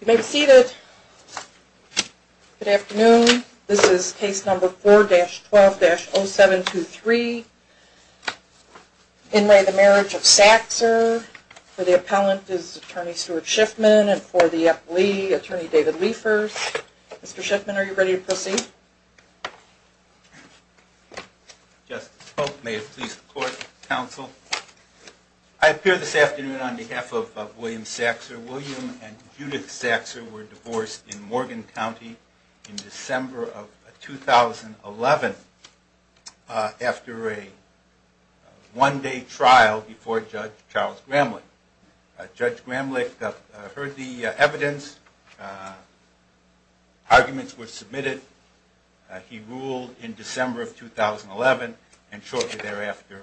You may be seated. Good afternoon. This is case number 4-12-0723. In re Marriage of Saxer, for the appellant is Attorney Stuart Schiffman and for the appellee, Attorney David Liefers. Mr. Schiffman, are you ready to proceed? Justice Polk, may it please the court, counsel. I appear this afternoon on behalf of William Saxer. William and Judith Saxer were divorced in Morgan County in December of 2011 after a one-day trial before Judge Charles Gramlich. Judge Gramlich heard the evidence, arguments were submitted, he ruled in December of 2011 and shortly thereafter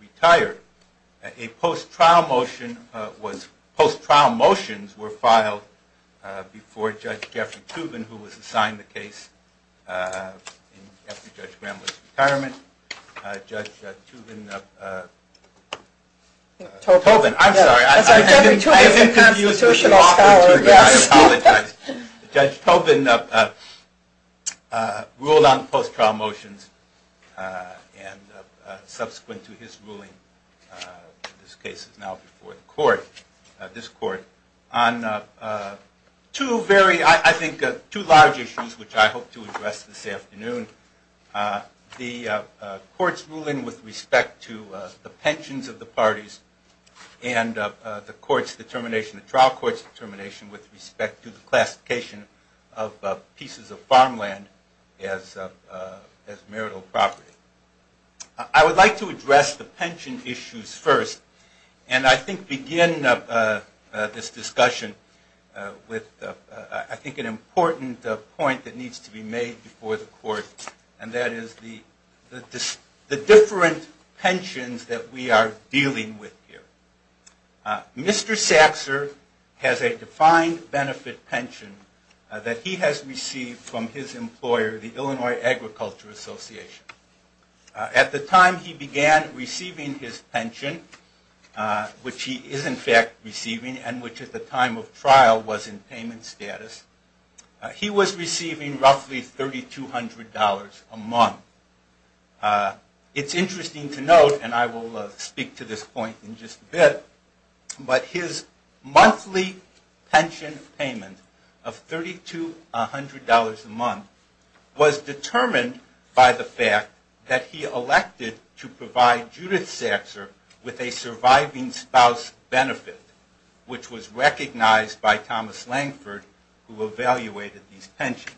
retired. A post-trial motion was filed before Judge Jeffrey Tobin who was assigned the case after Judge Gramlich's retirement. Judge Tobin ruled on post-trial motions and subsequent to his ruling, this case is now before the court, this court, on two very, I think, two large issues which I hope to address this afternoon. The court's ruling with respect to the pensions of the parties and the trial court's determination with respect to the classification of pieces of farmland as marital property. I would like to address the pension issues first and I think begin this discussion with I think an important point that needs to be made before the court and that is the different pensions that we are dealing with here. Mr. Saxer has a defined benefit pension that he has received from his employer, the Illinois Agriculture Association. At the time he began receiving his pension, which he is in fact receiving and which at the time of trial was in payment status, he was receiving roughly $3,200 a month. It's interesting to note, and I will speak to this point in just a bit, but his monthly pension payment of $3,200 a month was determined by the fact that he elected to provide Judith Saxer with a surviving spouse benefit, which was recognized by Thomas Langford who evaluated these pensions.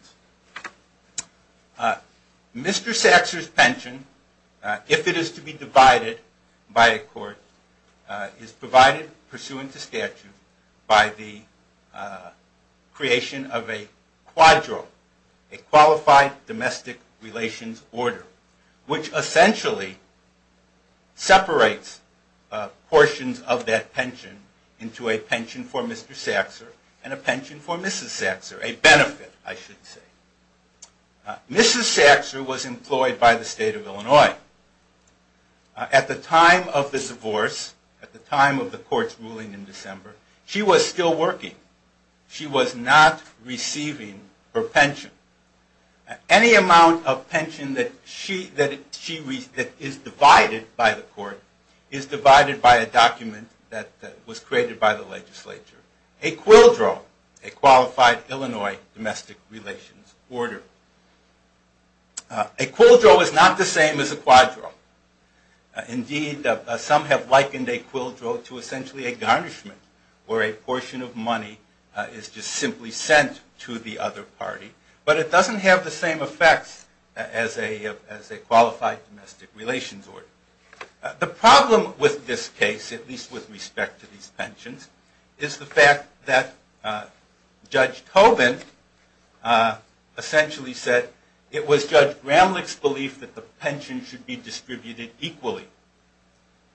Mr. Saxer's pension, if it is to be divided by a court, is provided pursuant to statute by the creation of a quadro, a qualified domestic relations order, which essentially separates portions of that pension into a pension for Mr. Saxer and a pension for Mrs. Saxer, a benefit I should say. Mrs. Saxer was employed by the state of Illinois. At the time of the divorce, at the time of the court's ruling in December, she was still working. She was not receiving her pension. Any amount of pension that is divided by the court is divided by a document that was created by the legislature. A quidro, a qualified Illinois domestic relations order. A quidro is not the same as a quadro. Indeed, some have likened a quidro to essentially a garnishment where a portion of money is just simply sent to the other party, but it doesn't have the same effects as a qualified domestic relations order. The problem with this case, at least with respect to these pensions, is the fact that Judge Tobin essentially said it was Judge Gramlich's belief that the pension should be distributed equally.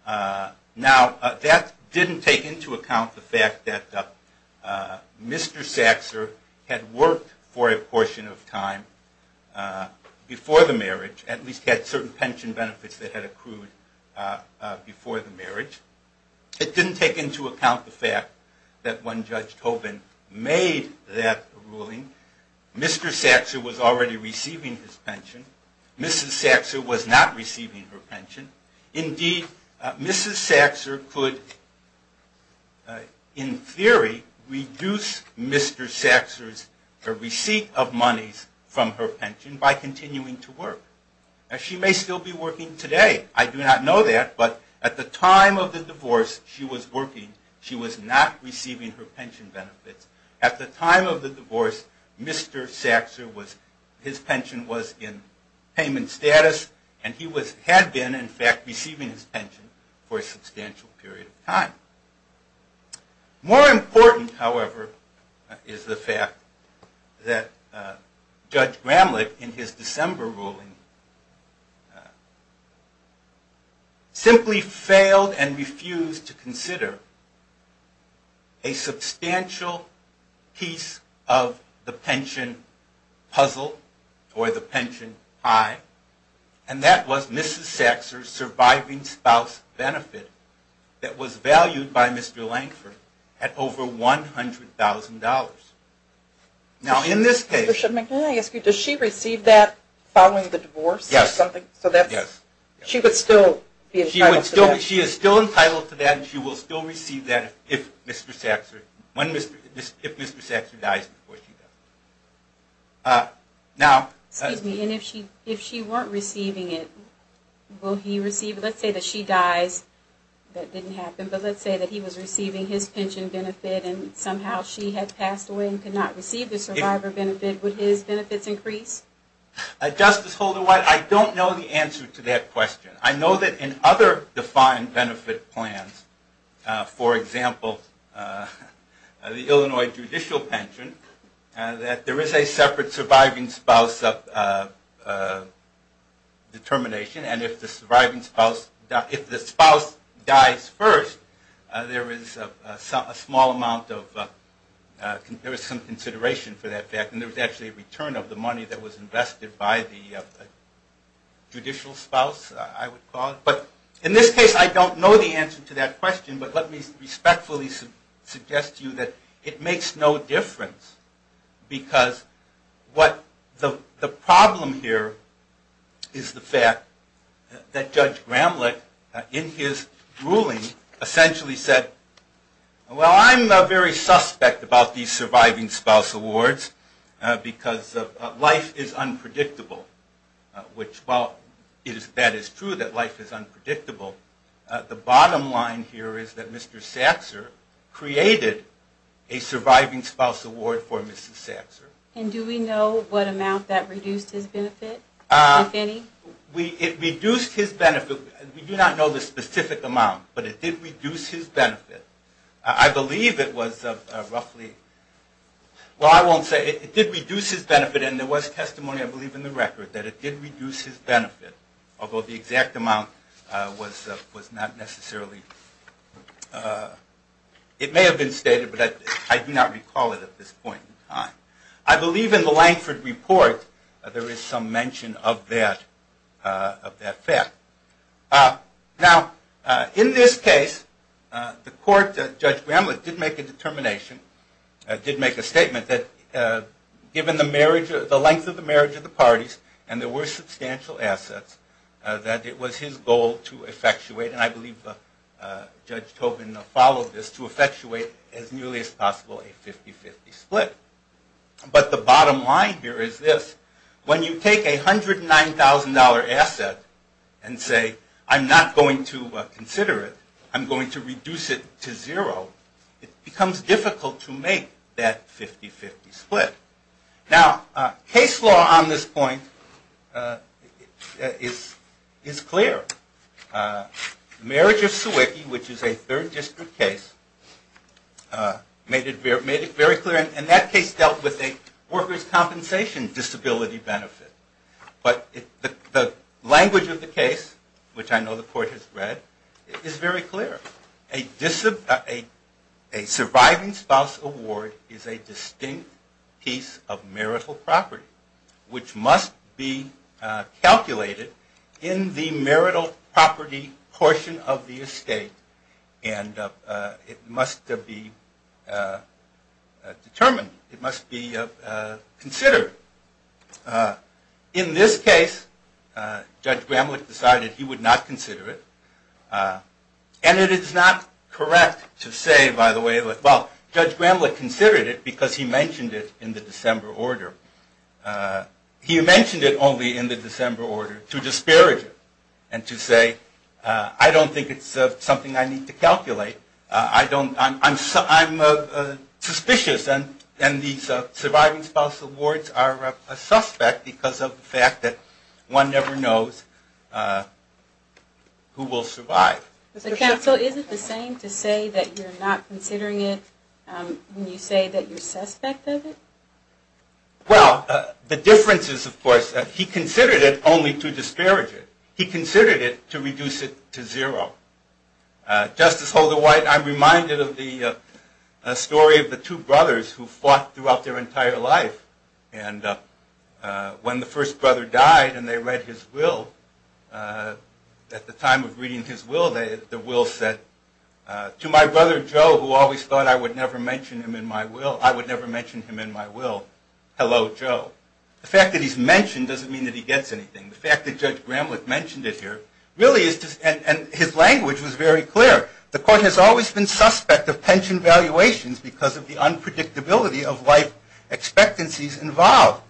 Now, that didn't take into account the fact that Mr. Saxer had worked for a portion of time before the marriage, at least had certain pension benefits that had accrued before the marriage. It didn't take into account the fact that when Judge Tobin made that ruling, Mr. Saxer was already receiving his pension. Mrs. Saxer was not receiving her pension. Indeed, Mrs. Saxer could, in theory, reduce Mr. Saxer's receipt of monies from her pension by continuing to work. She may still be working today. I do not know that, but at the time of the divorce, she was working. She was not receiving her pension benefits. At the time of the divorce, Mr. Saxer, his pension was in payment status, and he had been, in fact, receiving his pension for a substantial period of time. More important, however, is the fact that Judge Gramlich, in his December ruling, simply failed and refused to consider a substantial piece of the pension puzzle, or the pension pie. And that was Mrs. Saxer's surviving spouse benefit that was valued by Mr. Lankford at over $100,000. Now, in this case… Excuse me. And if she weren't receiving it, will he receive it? Let's say that she dies. That didn't happen. But let's say that he was receiving his pension benefit, and somehow she had passed away and could not receive the survivor benefit. Would his benefits increase? Justice Holder-White, I don't know the answer to that question. I know that in other defined benefit plans, for example, the Illinois judicial pension, that there is a separate surviving spouse determination. And if the spouse dies first, there is some consideration for that fact. And there was actually a return of the money that was invested by the judicial spouse, I would call it. But in this case, I don't know the answer to that question. But let me respectfully suggest to you that it makes no difference. Because the problem here is the fact that Judge Gramlich, in his ruling, essentially said, Well, I'm very suspect about these surviving spouse awards, because life is unpredictable. Which, while that is true, that life is unpredictable, the bottom line here is that Mr. Saxer created a surviving spouse award for Mrs. Saxer. And do we know what amount that reduced his benefit, if any? It reduced his benefit. We do not know the specific amount, but it did reduce his benefit. I believe it was roughly, well, I won't say. It did reduce his benefit, and there was testimony, I believe, in the record that it did reduce his benefit, although the exact amount was not necessarily, it may have been stated, but I do not recall it at this point in time. I believe in the Lankford Report, there is some mention of that fact. Now, in this case, the court, Judge Gramlich, did make a determination, did make a statement, that given the length of the marriage of the parties, and there were substantial assets, that it was his goal to effectuate, and I believe Judge Tobin followed this, to effectuate as nearly as possible a 50-50 split. But the bottom line here is this. When you take a $109,000 asset and say, I'm not going to consider it, I'm going to reduce it to zero, it becomes difficult to make that 50-50 split. Now, case law on this point is clear. Marriage of Sewicki, which is a third district case, made it very clear, and that case dealt with a workers' compensation disability benefit. But the language of the case, which I know the court has read, is very clear. A surviving spouse award is a distinct piece of marital property, which must be calculated in the marital property portion of the estate, and it must be determined. It must be considered. In this case, Judge Gramlich decided he would not consider it, and it is not correct to say, by the way, well, Judge Gramlich considered it because he mentioned it in the December order. He mentioned it only in the December order to disparage it and to say, I don't think it's something I need to calculate. I'm suspicious, and these surviving spouse awards are a suspect because of the fact that one never knows who will survive. The counsel, is it the same to say that you're not considering it when you say that you're suspect of it? Well, the difference is, of course, that he considered it only to disparage it. He considered it to reduce it to zero. Justice Holder-White, I'm reminded of the story of the two brothers who fought throughout their entire life. And when the first brother died and they read his will, at the time of reading his will, the will said, To my brother Joe, who always thought I would never mention him in my will, I would never mention him in my will. Hello, Joe. The fact that he's mentioned doesn't mean that he gets anything. The fact that Judge Gramlich mentioned it here really is just, and his language was very clear. The court has always been suspect of pension valuations because of the unpredictability of life expectancies involved.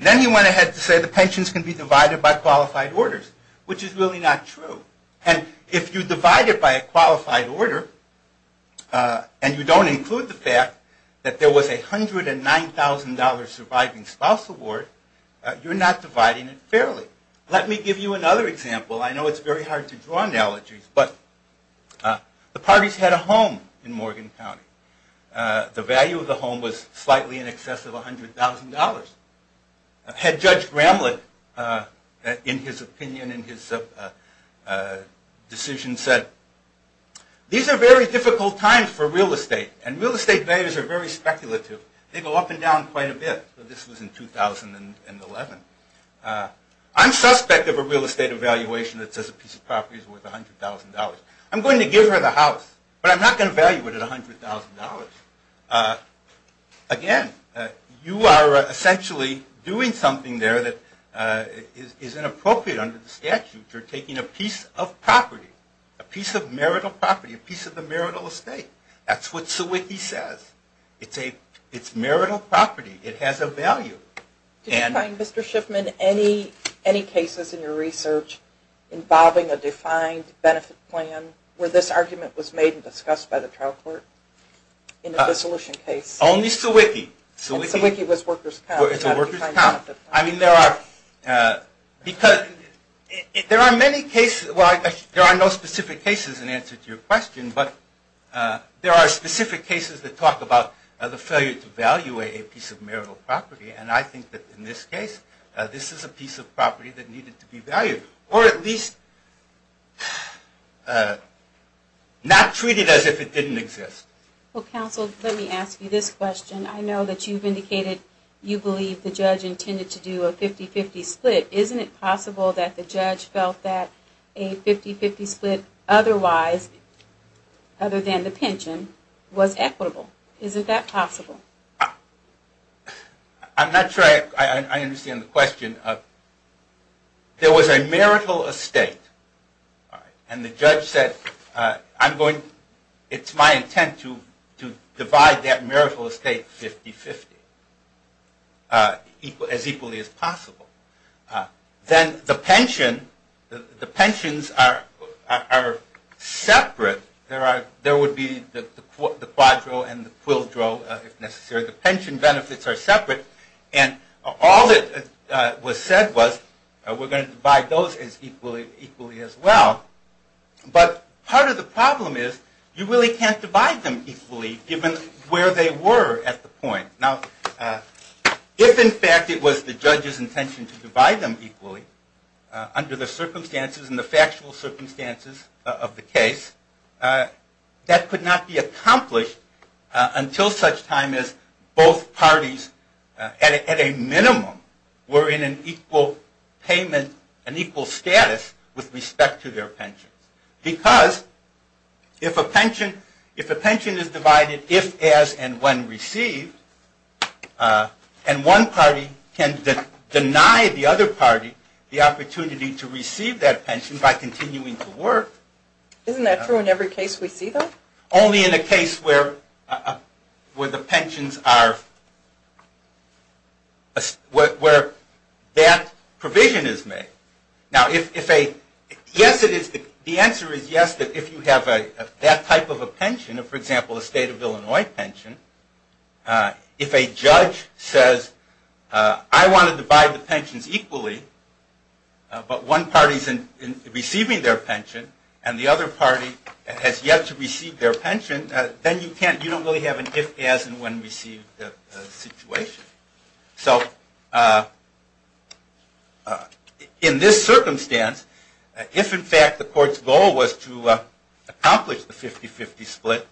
Then he went ahead to say the pensions can be divided by qualified orders, which is really not true. And if you divide it by a qualified order, and you don't include the fact that there was a $109,000 surviving spouse award, you're not dividing it fairly. Let me give you another example. I know it's very hard to draw analogies, but the parties had a home in Morgan County. The value of the home was slightly in excess of $100,000. Had Judge Gramlich, in his opinion, in his decision, said, These are very difficult times for real estate, and real estate values are very speculative. They go up and down quite a bit. This was in 2011. I'm suspect of a real estate evaluation that says a piece of property is worth $100,000. I'm going to give her the house, but I'm not going to value it at $100,000. Again, you are essentially doing something there that is inappropriate under the statute. You're taking a piece of property, a piece of marital property, a piece of the marital estate. That's what Sawicki says. It's marital property. It has a value. Did you find, Mr. Shipman, any cases in your research involving a defined benefit plan where this argument was made and discussed by the trial court in a dissolution case? Only Sawicki. I mean, there are many cases. There are no specific cases in answer to your question, but there are specific cases that talk about the failure to value a piece of marital property, and I think that in this case, this is a piece of property that needed to be valued, or at least not treated as if it didn't exist. Well, counsel, let me ask you this question. I know that you've indicated you believe the judge intended to do a 50-50 split. Isn't it possible that the judge felt that a 50-50 split otherwise, other than the pension, was equitable? Isn't that possible? I'm not sure I understand the question. There was a marital estate, and the judge said, it's my intent to divide that marital estate 50-50, as equally as possible. Then the pension, the pensions are separate. There would be the quadro and the quildro, if necessary. The pension benefits are separate, and all that was said was, we're going to divide those equally as well. But part of the problem is, you really can't divide them equally, given where they were at the point. Now, if in fact it was the judge's intention to divide them equally, under the circumstances and the factual circumstances of the case, that could not be accomplished until such time as both parties, at a minimum, were in an equal payment, an equal status with respect to their pension. Because, if a pension is divided if, as, and when received, and one party can deny the other party the opportunity to receive that pension by continuing to work. Isn't that true in every case we see, though? Only in a case where the pensions are, where that provision is made. Now, the answer is yes, that if you have that type of a pension, for example, a state of Illinois pension, if a judge says, I want to divide the pensions equally, but one party is receiving their pension, and the other party has yet to receive their pension, then you don't really have an if, as, and when received situation. So, in this circumstance, if in fact the court's goal was to accomplish the 50-50 split,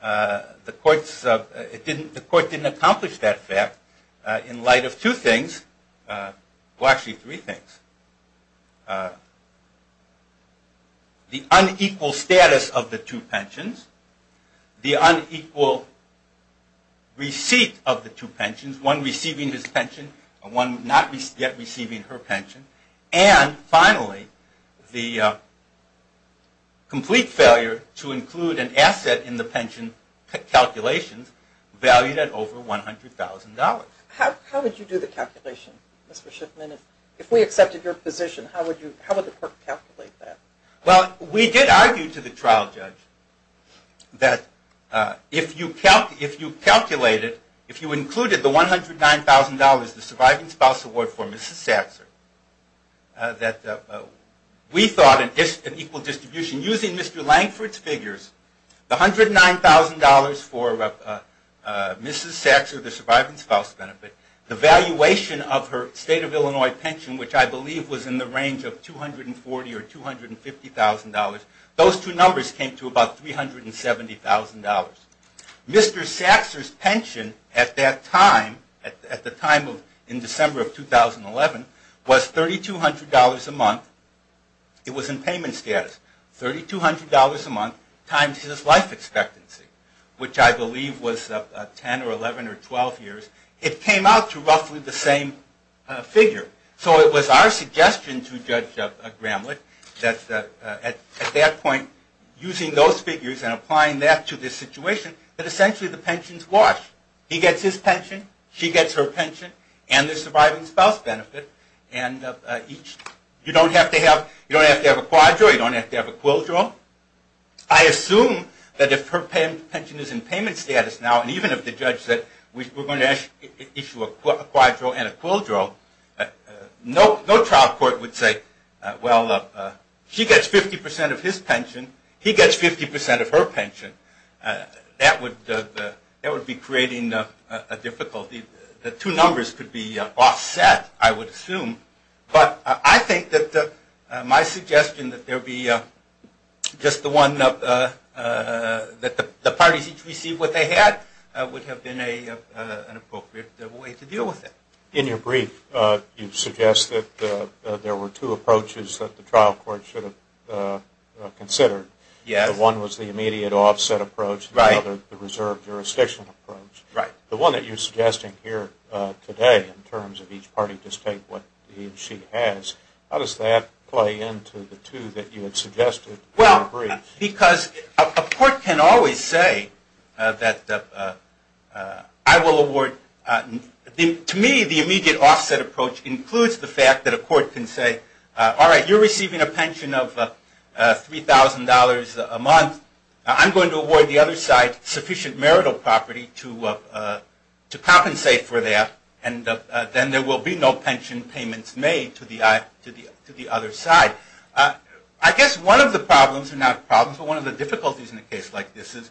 the court didn't accomplish that fact in light of two things. Well, actually three things. The unequal status of the two pensions, the unequal receipt of the two pensions, one receiving his pension and one not yet receiving her pension, and finally, the complete failure to include an asset in the pension calculations, valued at over $100,000. How would you do the calculation, Mr. Shipman? If we accepted your position, how would the court calculate that? Well, we did argue to the trial judge that if you calculated, if you included the $109,000, the surviving spouse award for Mrs. Saxor, that we thought an equal distribution using Mr. Langford's figures, the $109,000 for Mrs. Saxor, the surviving spouse benefit, the valuation of her state of Illinois pension, which I believe was in the range of $240,000 or $250,000, those two numbers came to about $370,000. Mr. Saxor's pension at that time, at the time in December of 2011, was $3,200 a month. It was in payment status. $3,200 a month times his life expectancy, which I believe was 10 or 11 or 12 years. It came out to roughly the same figure. So it was our suggestion to Judge Gramlich that at that point, using those figures and applying that to this situation, that essentially the pension's washed. He gets his pension, she gets her pension, and the surviving spouse benefit. And you don't have to have a quadro, you don't have to have a quildro. I assume that if her pension is in payment status now, and even if the judge said, we're going to issue a quadro and a quildro, no trial court would say, well, she gets 50% of his pension, he gets 50% of her pension. That would be creating a difficulty. The two numbers could be offset, I would assume. But I think that my suggestion that there be just the one, that the parties each receive what they had, would have been an appropriate way to deal with it. In your brief, you suggest that there were two approaches that the trial court should have considered. One was the immediate offset approach, and the other the reserve jurisdiction approach. The one that you're suggesting here today, in terms of each party just take what he or she has, how does that play into the two that you had suggested in your brief? Because a court can always say, to me, the immediate offset approach includes the fact that a court can say, all right, you're receiving a pension of $3,000 a month, I'm going to award the other side sufficient marital property to compensate for that, and then there will be no pension payments made to the other side. I guess one of the problems, or not problems, but one of the difficulties in a case like this is,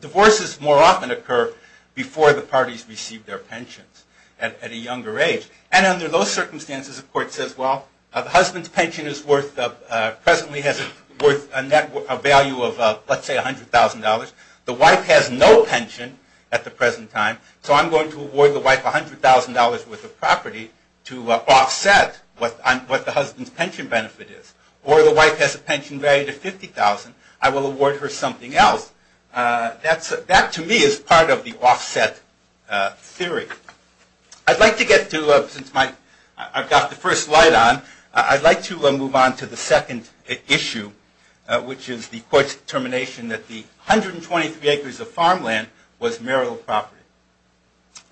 divorces more often occur before the parties receive their pensions at a younger age. And under those circumstances, a court says, well, the husband's pension presently has a net value of, let's say, $100,000. The wife has no pension at the present time, so I'm going to award the wife $100,000 worth of property to offset what the husband's pension value is. Or the wife has a pension value of $50,000, I will award her something else. That, to me, is part of the offset theory. I'd like to get to, since I've got the first slide on, I'd like to move on to the second issue, which is the court's determination that the 123 acres of farmland was marital property.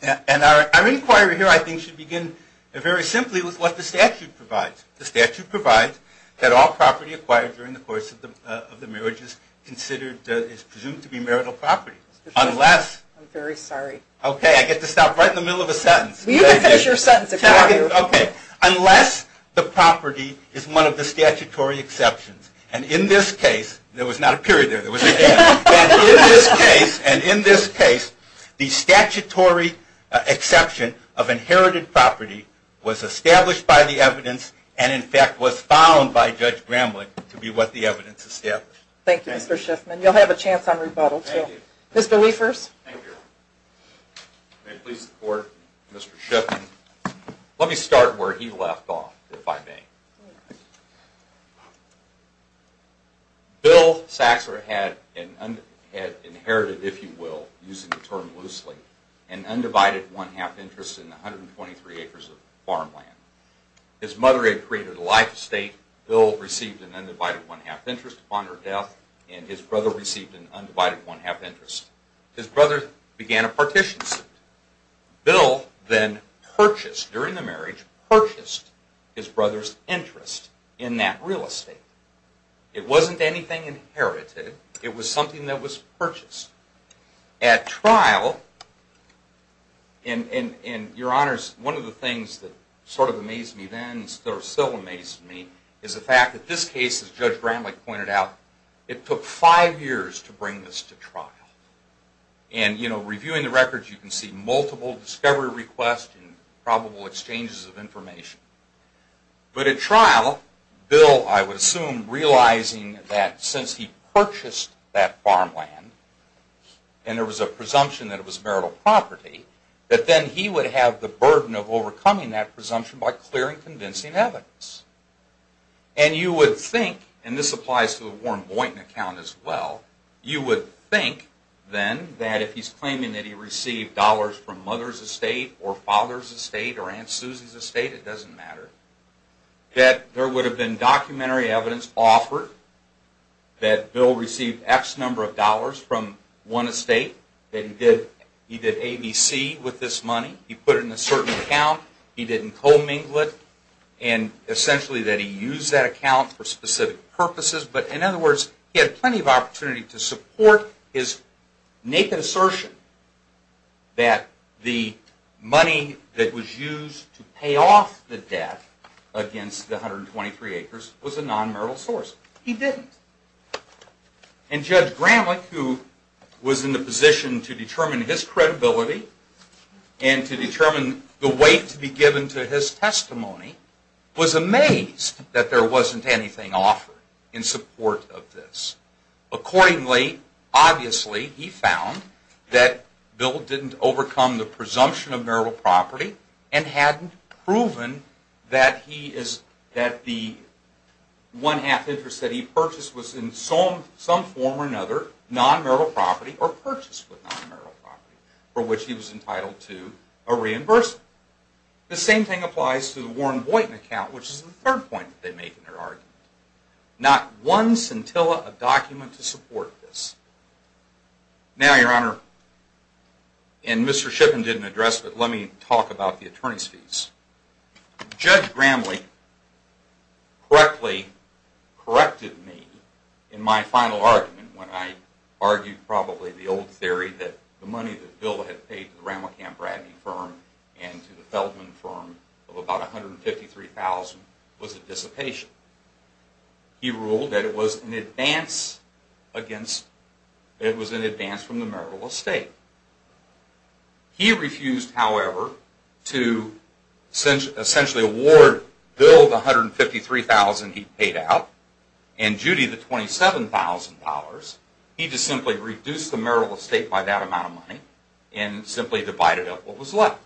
And our inquiry here, I think, should begin very simply with what the statute provides. The statute provides that all property acquired during the course of the marriage is presumed to be marital property, unless… I'm very sorry. Okay, I get to stop right in the middle of a sentence. You can finish your sentence if you want to. Unless the property is one of the statutory exceptions. And in this case, there was not a period there, there was an end. And in this case, the statutory exception of inherited property was established by the evidence and, in fact, was found by Judge Gramlich to be what the evidence established. Thank you, Mr. Shiffman. You'll have a chance on rebuttal, too. Mr. Liefers? Thank you. May it please the court, Mr. Shiffman. Let me start where he left off, if I may. Bill Saxler had inherited, if you will, using the term loosely, an undivided one-half interest in the 123 acres of farmland. His mother had created a life estate. Bill received an undivided one-half interest upon her death, and his brother received an undivided one-half interest. His brother began a partition suit. Bill then purchased, during the marriage, purchased his brother's interest in that real estate. It wasn't anything inherited. It was something that was purchased. At trial, and Your Honors, one of the things that sort of amazed me then and still amazes me is the fact that this case, as Judge Gramlich pointed out, it took five years to bring this to trial. And, you know, reviewing the records, you can see multiple discovery requests and probable exchanges of information. But at trial, Bill, I would assume, realizing that since he purchased that farmland, and there was a presumption that it was marital property, that then he would have the burden of overcoming that presumption by clearing convincing evidence. And you would think, and this applies to the Warren Boynton account as well, you would think then that if he's claiming that he received dollars from mother's estate or father's estate or Aunt Susie's estate, it doesn't matter, that there would have been documentary evidence offered that Bill received X number of dollars from one estate, that he did ABC with this money, he put it in a certain account, he didn't commingle it, and essentially that he used that account for specific purposes. But in other words, he had plenty of opportunity to support his naked assertion that the money that was used to pay off the debt against the 123 acres was a non-marital source. He didn't. And Judge Gramlich, who was in the position to determine his credibility and to determine the weight to be given to his testimony, was amazed that there wasn't anything offered in support of this. Accordingly, obviously, he found that Bill didn't overcome the presumption of marital property and hadn't proven that the one half interest that he purchased was in some form or another non-marital property or purchased with non-marital property, for which he was entitled to a reimbursement. The same thing applies to the Warren Boynton account, which is the third point that they make in their argument. Not one scintilla of document to support this. Now, Your Honor, and Mr. Shippen didn't address, but let me talk about the attorney's fees. Judge Gramlich correctly corrected me in my final argument when I argued probably the old theory that the money that Bill had paid to the Rammelkamp-Bradley firm and to the Feldman firm of about $153,000 was a dissipation. He ruled that it was an advance from the marital estate. He refused, however, to essentially award Bill the $153,000 he paid out and Judy the $27,000. He just simply reduced the marital estate by that amount of money and simply divided up what was left.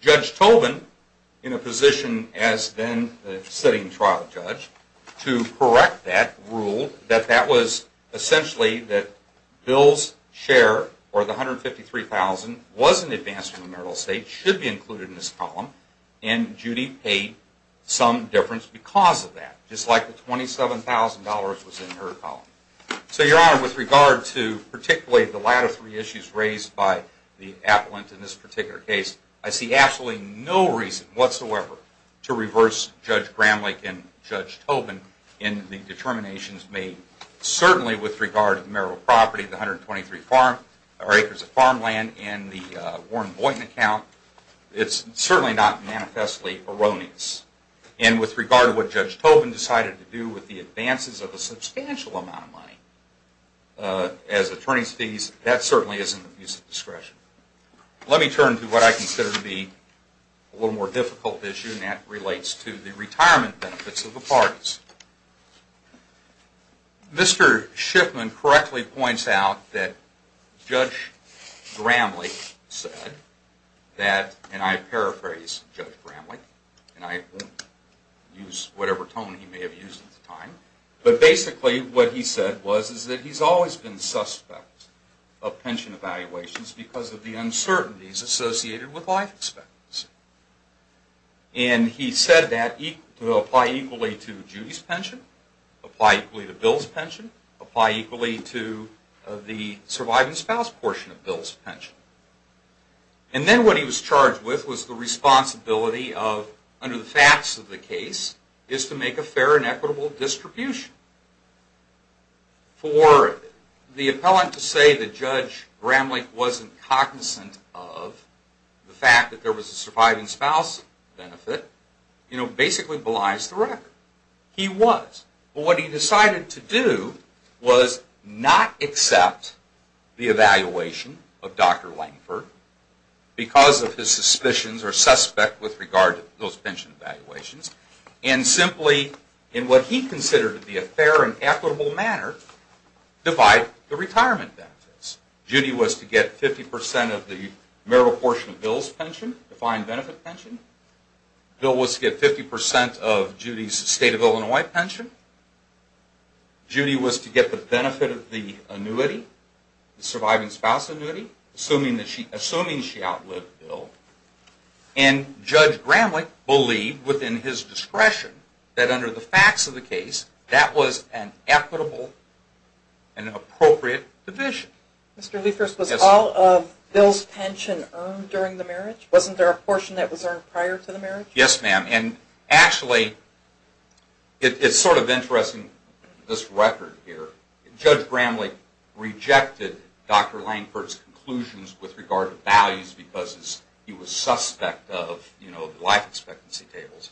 Judge Tobin, in a position as then the sitting trial judge, to correct that ruled that that was essentially that Bill's share or the $153,000 was an advance from the marital estate, should be included in this column, and Judy paid some difference because of that. Just like the $27,000 was in her column. So, Your Honor, with regard to particularly the latter three issues raised by the appellant in this particular case, I see absolutely no reason whatsoever to reverse Judge Gramlich and Judge Tobin in the determinations made. Certainly with regard to the marital property, the 123 acres of farmland and the Warren Boynton account, it's certainly not manifestly erroneous. And with regard to what Judge Tobin decided to do with the advances of a substantial amount of money as attorney's fees, that certainly isn't the use of discretion. Let me turn to what I consider to be a little more difficult issue and that relates to the retirement benefits of the parties. Mr. Schiffman correctly points out that Judge Gramlich said that, and I paraphrase Judge Gramlich, and I won't use whatever tone he may have used at the time, but basically what he said was that he's always been suspect of pension evaluations because of the uncertainties associated with life expectancy. And he said that to apply equally to Judy's pension, apply equally to Bill's pension, apply equally to the surviving spouse portion of Bill's pension. And then what he was charged with was the responsibility of, under the facts of the case, is to make a fair and equitable distribution. For the appellant to say that Judge Gramlich wasn't cognizant of the fact that there was a surviving spouse benefit, you know, basically belies the record. He was, but what he decided to do was not accept the evaluation of Dr. Langford because of his suspicions or suspect with regard to those pension evaluations and simply, in what he considered to be a fair and equitable manner, divide the retirement benefits. Judy was to get 50% of the marital portion of Bill's pension, defined benefit pension. Bill was to get 50% of Judy's state of Illinois pension. Judy was to get the benefit of the annuity, the surviving spouse annuity, assuming she outlived Bill. And Judge Gramlich believed, within his discretion, that under the facts of the case, that was an equitable and appropriate division. Mr. Liefers, was all of Bill's pension earned during the marriage? Wasn't there a portion that was earned prior to the marriage? Yes, ma'am. And actually, it's sort of interesting, this record here. Judge Gramlich rejected Dr. Langford's conclusions with regard to values because he was suspect of life expectancy tables.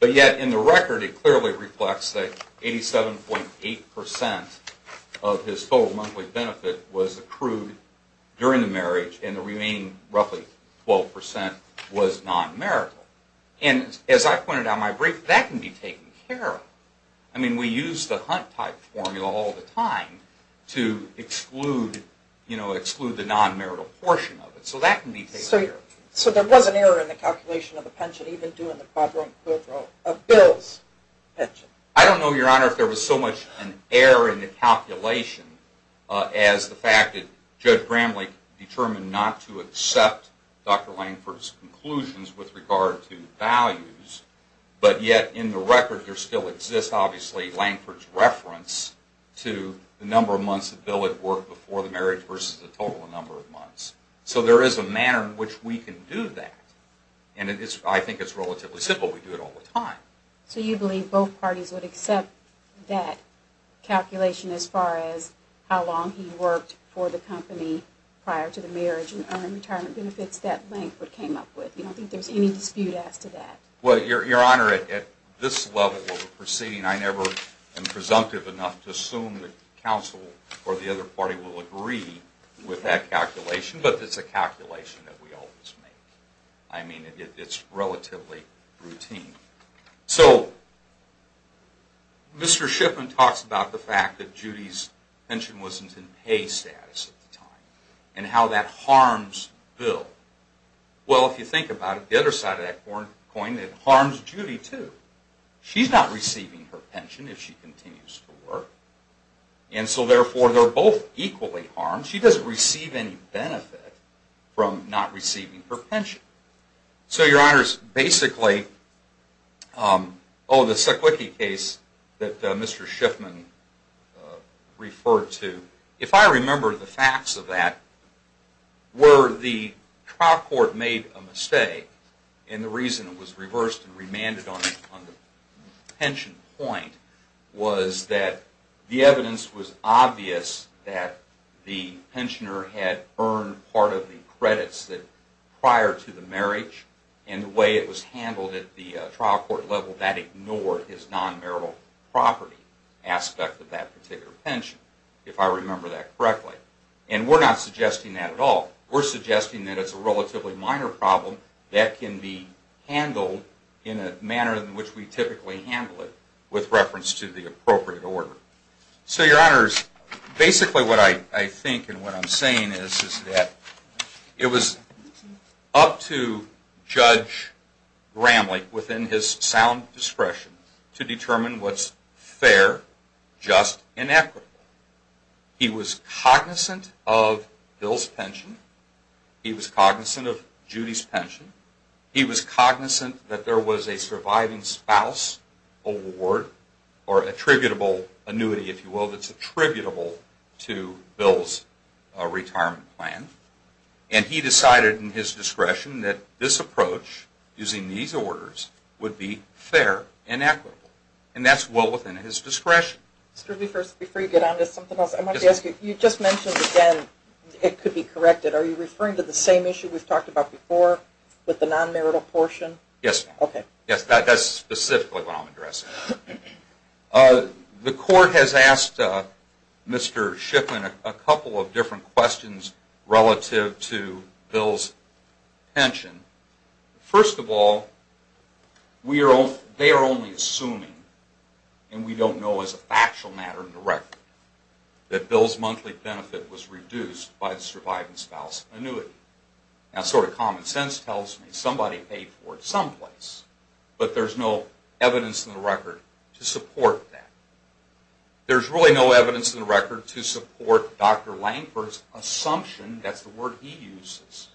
But yet, in the record, it clearly reflects that 87.8% of his total monthly benefit was accrued during the marriage, and the remaining roughly 12% was non-marital. And as I pointed out in my brief, that can be taken care of. I mean, we use the Hunt-type formula all the time to exclude the non-marital portion of it. So that can be taken care of. So there was an error in the calculation of the pension, even due in the quadro and quadro of Bill's pension? I don't know, Your Honor, if there was so much an error in the calculation as the fact that Judge Gramlich determined not to accept Dr. Langford's conclusions with regard to values. But yet, in the record, there still exists, obviously, Langford's reference to the number of months that Bill had worked before the marriage versus the total number of months. So there is a manner in which we can do that. And I think it's relatively simple. We do it all the time. So you believe both parties would accept that calculation as far as how long he worked for the company prior to the marriage and earned retirement benefits that Langford came up with? You don't think there's any dispute as to that? Well, Your Honor, at this level of a proceeding, I never am presumptive enough to assume that counsel or the other party will agree with that calculation. But it's a calculation that we always make. I mean, it's relatively routine. So Mr. Shipman talks about the fact that Judy's pension wasn't in pay status at the time and how that harms Bill. Well, if you think about it, the other side of that coin, it harms Judy, too. She's not receiving her pension if she continues to work. And so, therefore, they're both equally harmed. She doesn't receive any benefit from not receiving her pension. So, Your Honors, basically, oh, the Seklicky case that Mr. Shipman referred to, if I remember the facts of that, where the trial court made a mistake and the reason it was reversed and remanded on the pension point was that the evidence was obvious that the pensioner had earned part of the credits prior to the marriage. And the way it was handled at the trial court level, that ignored his non-marital property aspect of that particular pension, if I remember that correctly. And we're not suggesting that at all. We're suggesting that it's a relatively minor problem that can be handled in a manner in which we typically handle it with reference to the appropriate order. So, Your Honors, basically what I think and what I'm saying is that it was up to Judge Bramley, within his sound discretion, to determine what's fair, just, and equitable. He was cognizant of Bill's pension. He was cognizant of Judy's pension. He was cognizant that there was a surviving spouse award, or attributable annuity, if you will, that's attributable to Bill's retirement plan. And he decided in his discretion that this approach, using these orders, would be fair and equitable. And that's well within his discretion. Excuse me, first, before you get on to something else, I wanted to ask you, you just mentioned again, it could be corrected. Are you referring to the same issue we've talked about before, with the non-marital portion? Yes. Yes, that's specifically what I'm addressing. The court has asked Mr. Shiflin a couple of different questions relative to Bill's pension. First of all, they are only assuming, and we don't know as a factual matter in the record, that Bill's monthly benefit was reduced by the surviving spouse annuity. Now, sort of common sense tells me somebody paid for it someplace, but there's no evidence in the record to support that. There's really no evidence in the record to support Dr. Lankford's assumption, that's the word he uses,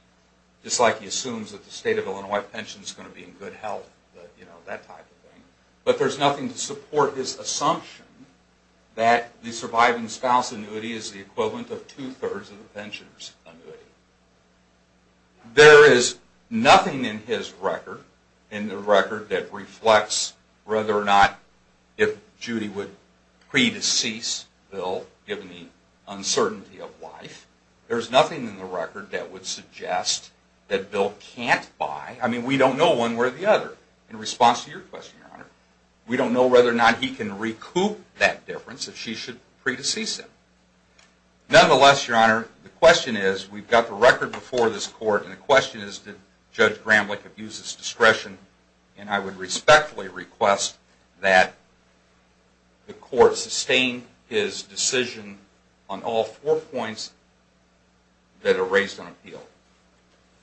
just like he assumes that the state of Illinois pension is going to be in good health, that type of thing. But there's nothing to support his assumption that the surviving spouse annuity is the equivalent of two-thirds of the pensioner's annuity. There is nothing in his record, in the record that reflects whether or not if Judy would pre-decease Bill, given the uncertainty of life. There's nothing in the record that would suggest that Bill can't buy, I mean we don't know one way or the other, in response to your question, Your Honor. We don't know whether or not he can recoup that difference, if she should pre-decease him. Nonetheless, Your Honor, the question is, we've got the record before this Court, and the question is, did Judge Gramlich abuse his discretion? And I would respectfully request that the Court sustain his decision on all four points that are raised on appeal.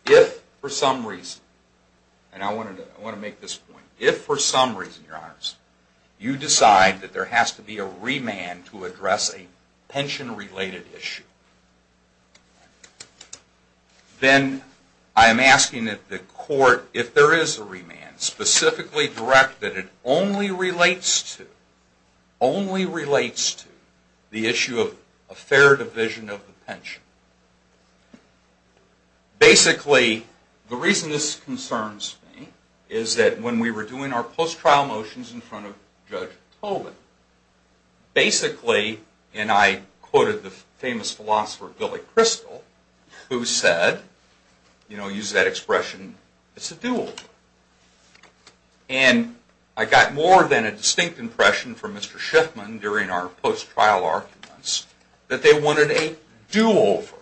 If, for some reason, and I want to make this point, if for some reason, Your Honors, you decide that there has to be a remand to address a pension-related issue, then I am asking that the Court, if there is a remand, specifically direct that it only relates to, only relates to, the issue of a fair division of the pension. Basically, the reason this concerns me is that when we were doing our post-trial motions in front of Judge Tolan, basically, and I quoted the famous philosopher Billy Crystal, who said, you know, use that expression, it's a do-over. And I got more than a distinct impression from Mr. Shiffman during our post-trial arguments that they wanted a do-over.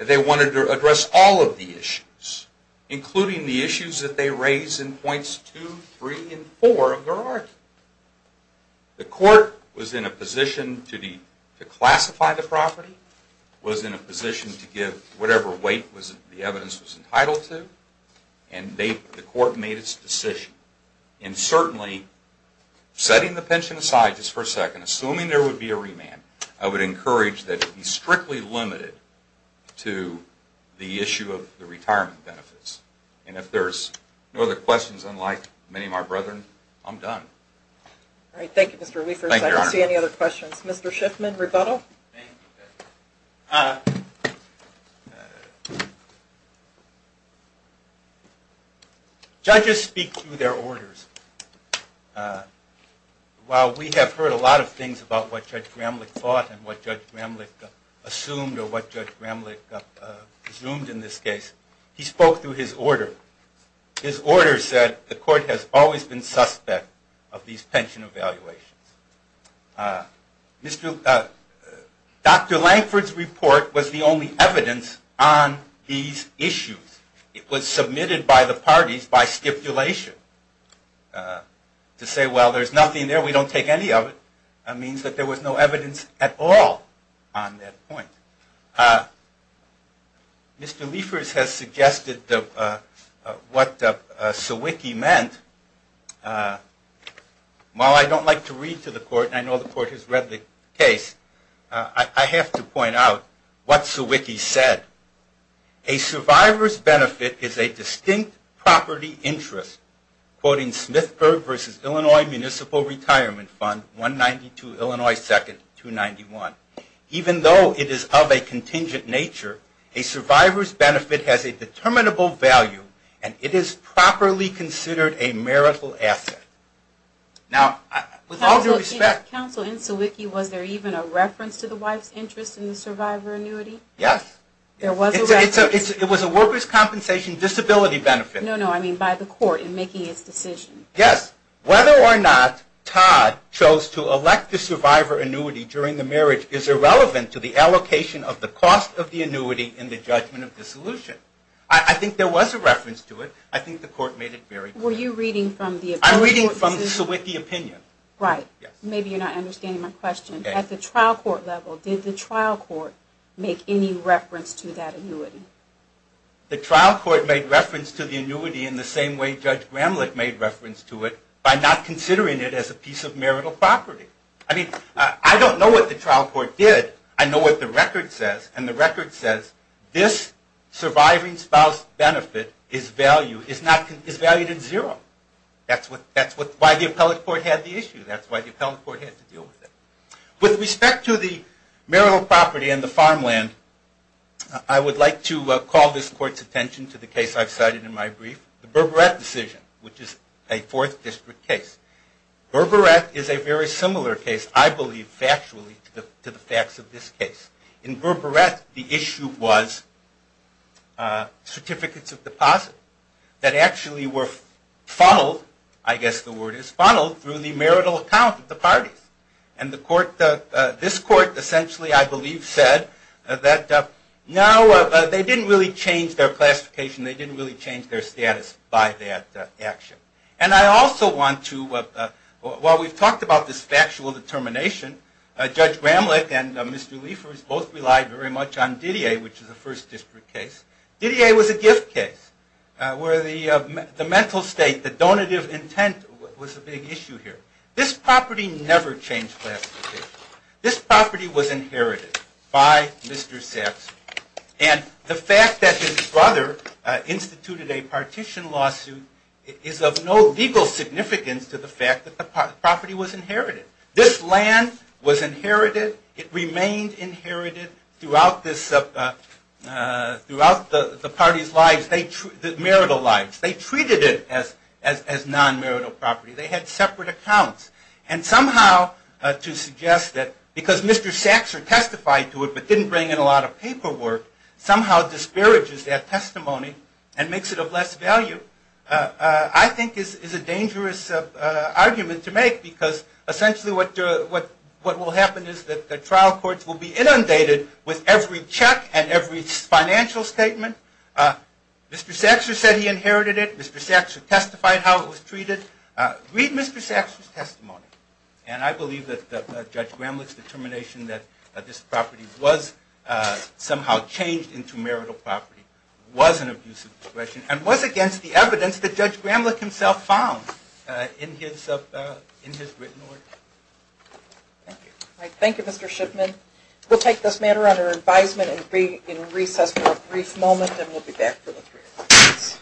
They wanted to address all of the issues, including the issues that they raised in points two, three, and four of their argument. The Court was in a position to classify the property, was in a position to give whatever weight the evidence was entitled to, and the Court made its decision. And certainly, setting the pension aside just for a second, assuming there would be a remand, I would encourage that it be strictly limited to the issue of the retirement benefits. And if there's no other questions, unlike many of my brethren, I'm done. Thank you, Mr. Liefers. I don't see any other questions. Mr. Shiffman, rebuttal? Thank you, Judge. Judges speak through their orders. While we have heard a lot of things about what Judge Gramlich thought and what Judge Gramlich assumed or what Judge Gramlich presumed in this case, he spoke through his order. His order said the Court has always been suspect of these pension evaluations. Dr. Lankford's report was the only evidence on these issues. It was submitted by the parties by stipulation. To say, well, there's nothing there, we don't take any of it, means that there was no evidence at all on that point. Mr. Liefers has suggested what Sawicki meant. While I don't like to read to the Court, and I know the Court has read the case, I have to point out what Sawicki said. A survivor's benefit is a distinct property interest, quoting Smithburg v. Illinois Municipal Retirement Fund, 192 Illinois 2, 291. Even though it is of a contingent nature, a survivor's benefit has a determinable value, and it is properly considered a marital asset. Now, with all due respect... Counsel, in Sawicki, was there even a reference to the wife's interest in the survivor annuity? Yes. It was a worker's compensation disability benefit. No, no, I mean by the Court in making its decision. Yes. Whether or not Todd chose to elect the survivor annuity during the marriage is irrelevant to the allocation of the cost of the annuity in the judgment of the solution. I think there was a reference to it. I think the Court made it very clear. Were you reading from the opinion? I'm reading from Sawicki's opinion. Right. Maybe you're not understanding my question. At the trial court level, did the trial court make any reference to that annuity? The trial court made reference to the annuity in the same way Judge Gramlich made reference to it, by not considering it as a piece of marital property. I mean, I don't know what the trial court did. I know what the record says, and the record says this surviving spouse benefit is valued at zero. That's why the appellate court had the issue. That's why the appellate court had to deal with it. With respect to the marital property and the farmland, I would like to call this Court's attention to the case I've cited in my brief, the Berberet decision, which is a Fourth District case. Berberet is a very similar case, I believe factually, to the facts of this case. In Berberet, the issue was certificates of deposit that actually were funneled, I guess the word is, funneled through the marital account of the parties. And this Court essentially, I believe, said that now they didn't really change their classification, they didn't really change their status by that action. And I also want to, while we've talked about this factual determination, Judge Gramlich and Mr. Liefers both relied very much on Didier, which is a First District case. Didier was a gift case, where the mental state, the donative intent was a big issue here. This property never changed classification. This property was inherited by Mr. Saxby. And the fact that his brother instituted a partition lawsuit is of no legal significance to the fact that the property was inherited. This land was inherited, it remained inherited throughout the parties' lives, the marital lives. They treated it as non-marital property. They had separate accounts. And somehow to suggest that because Mr. Saxor testified to it but didn't bring in a lot of paperwork, somehow disparages that testimony and makes it of less value, I think is a dangerous argument to make because essentially what will happen is that the trial courts will be inundated with every check and every financial statement. Mr. Saxor said he inherited it. Mr. Saxor testified how it was treated. Read Mr. Saxor's testimony. And I believe that Judge Gramlich's determination that this property was somehow changed into marital property was an abuse of discretion and was against the evidence that Judge Gramlich himself found in his written work. Thank you. Thank you, Mr. Shipman. We'll take this matter under advisement and be in recess for a brief moment and we'll be back for the three of you.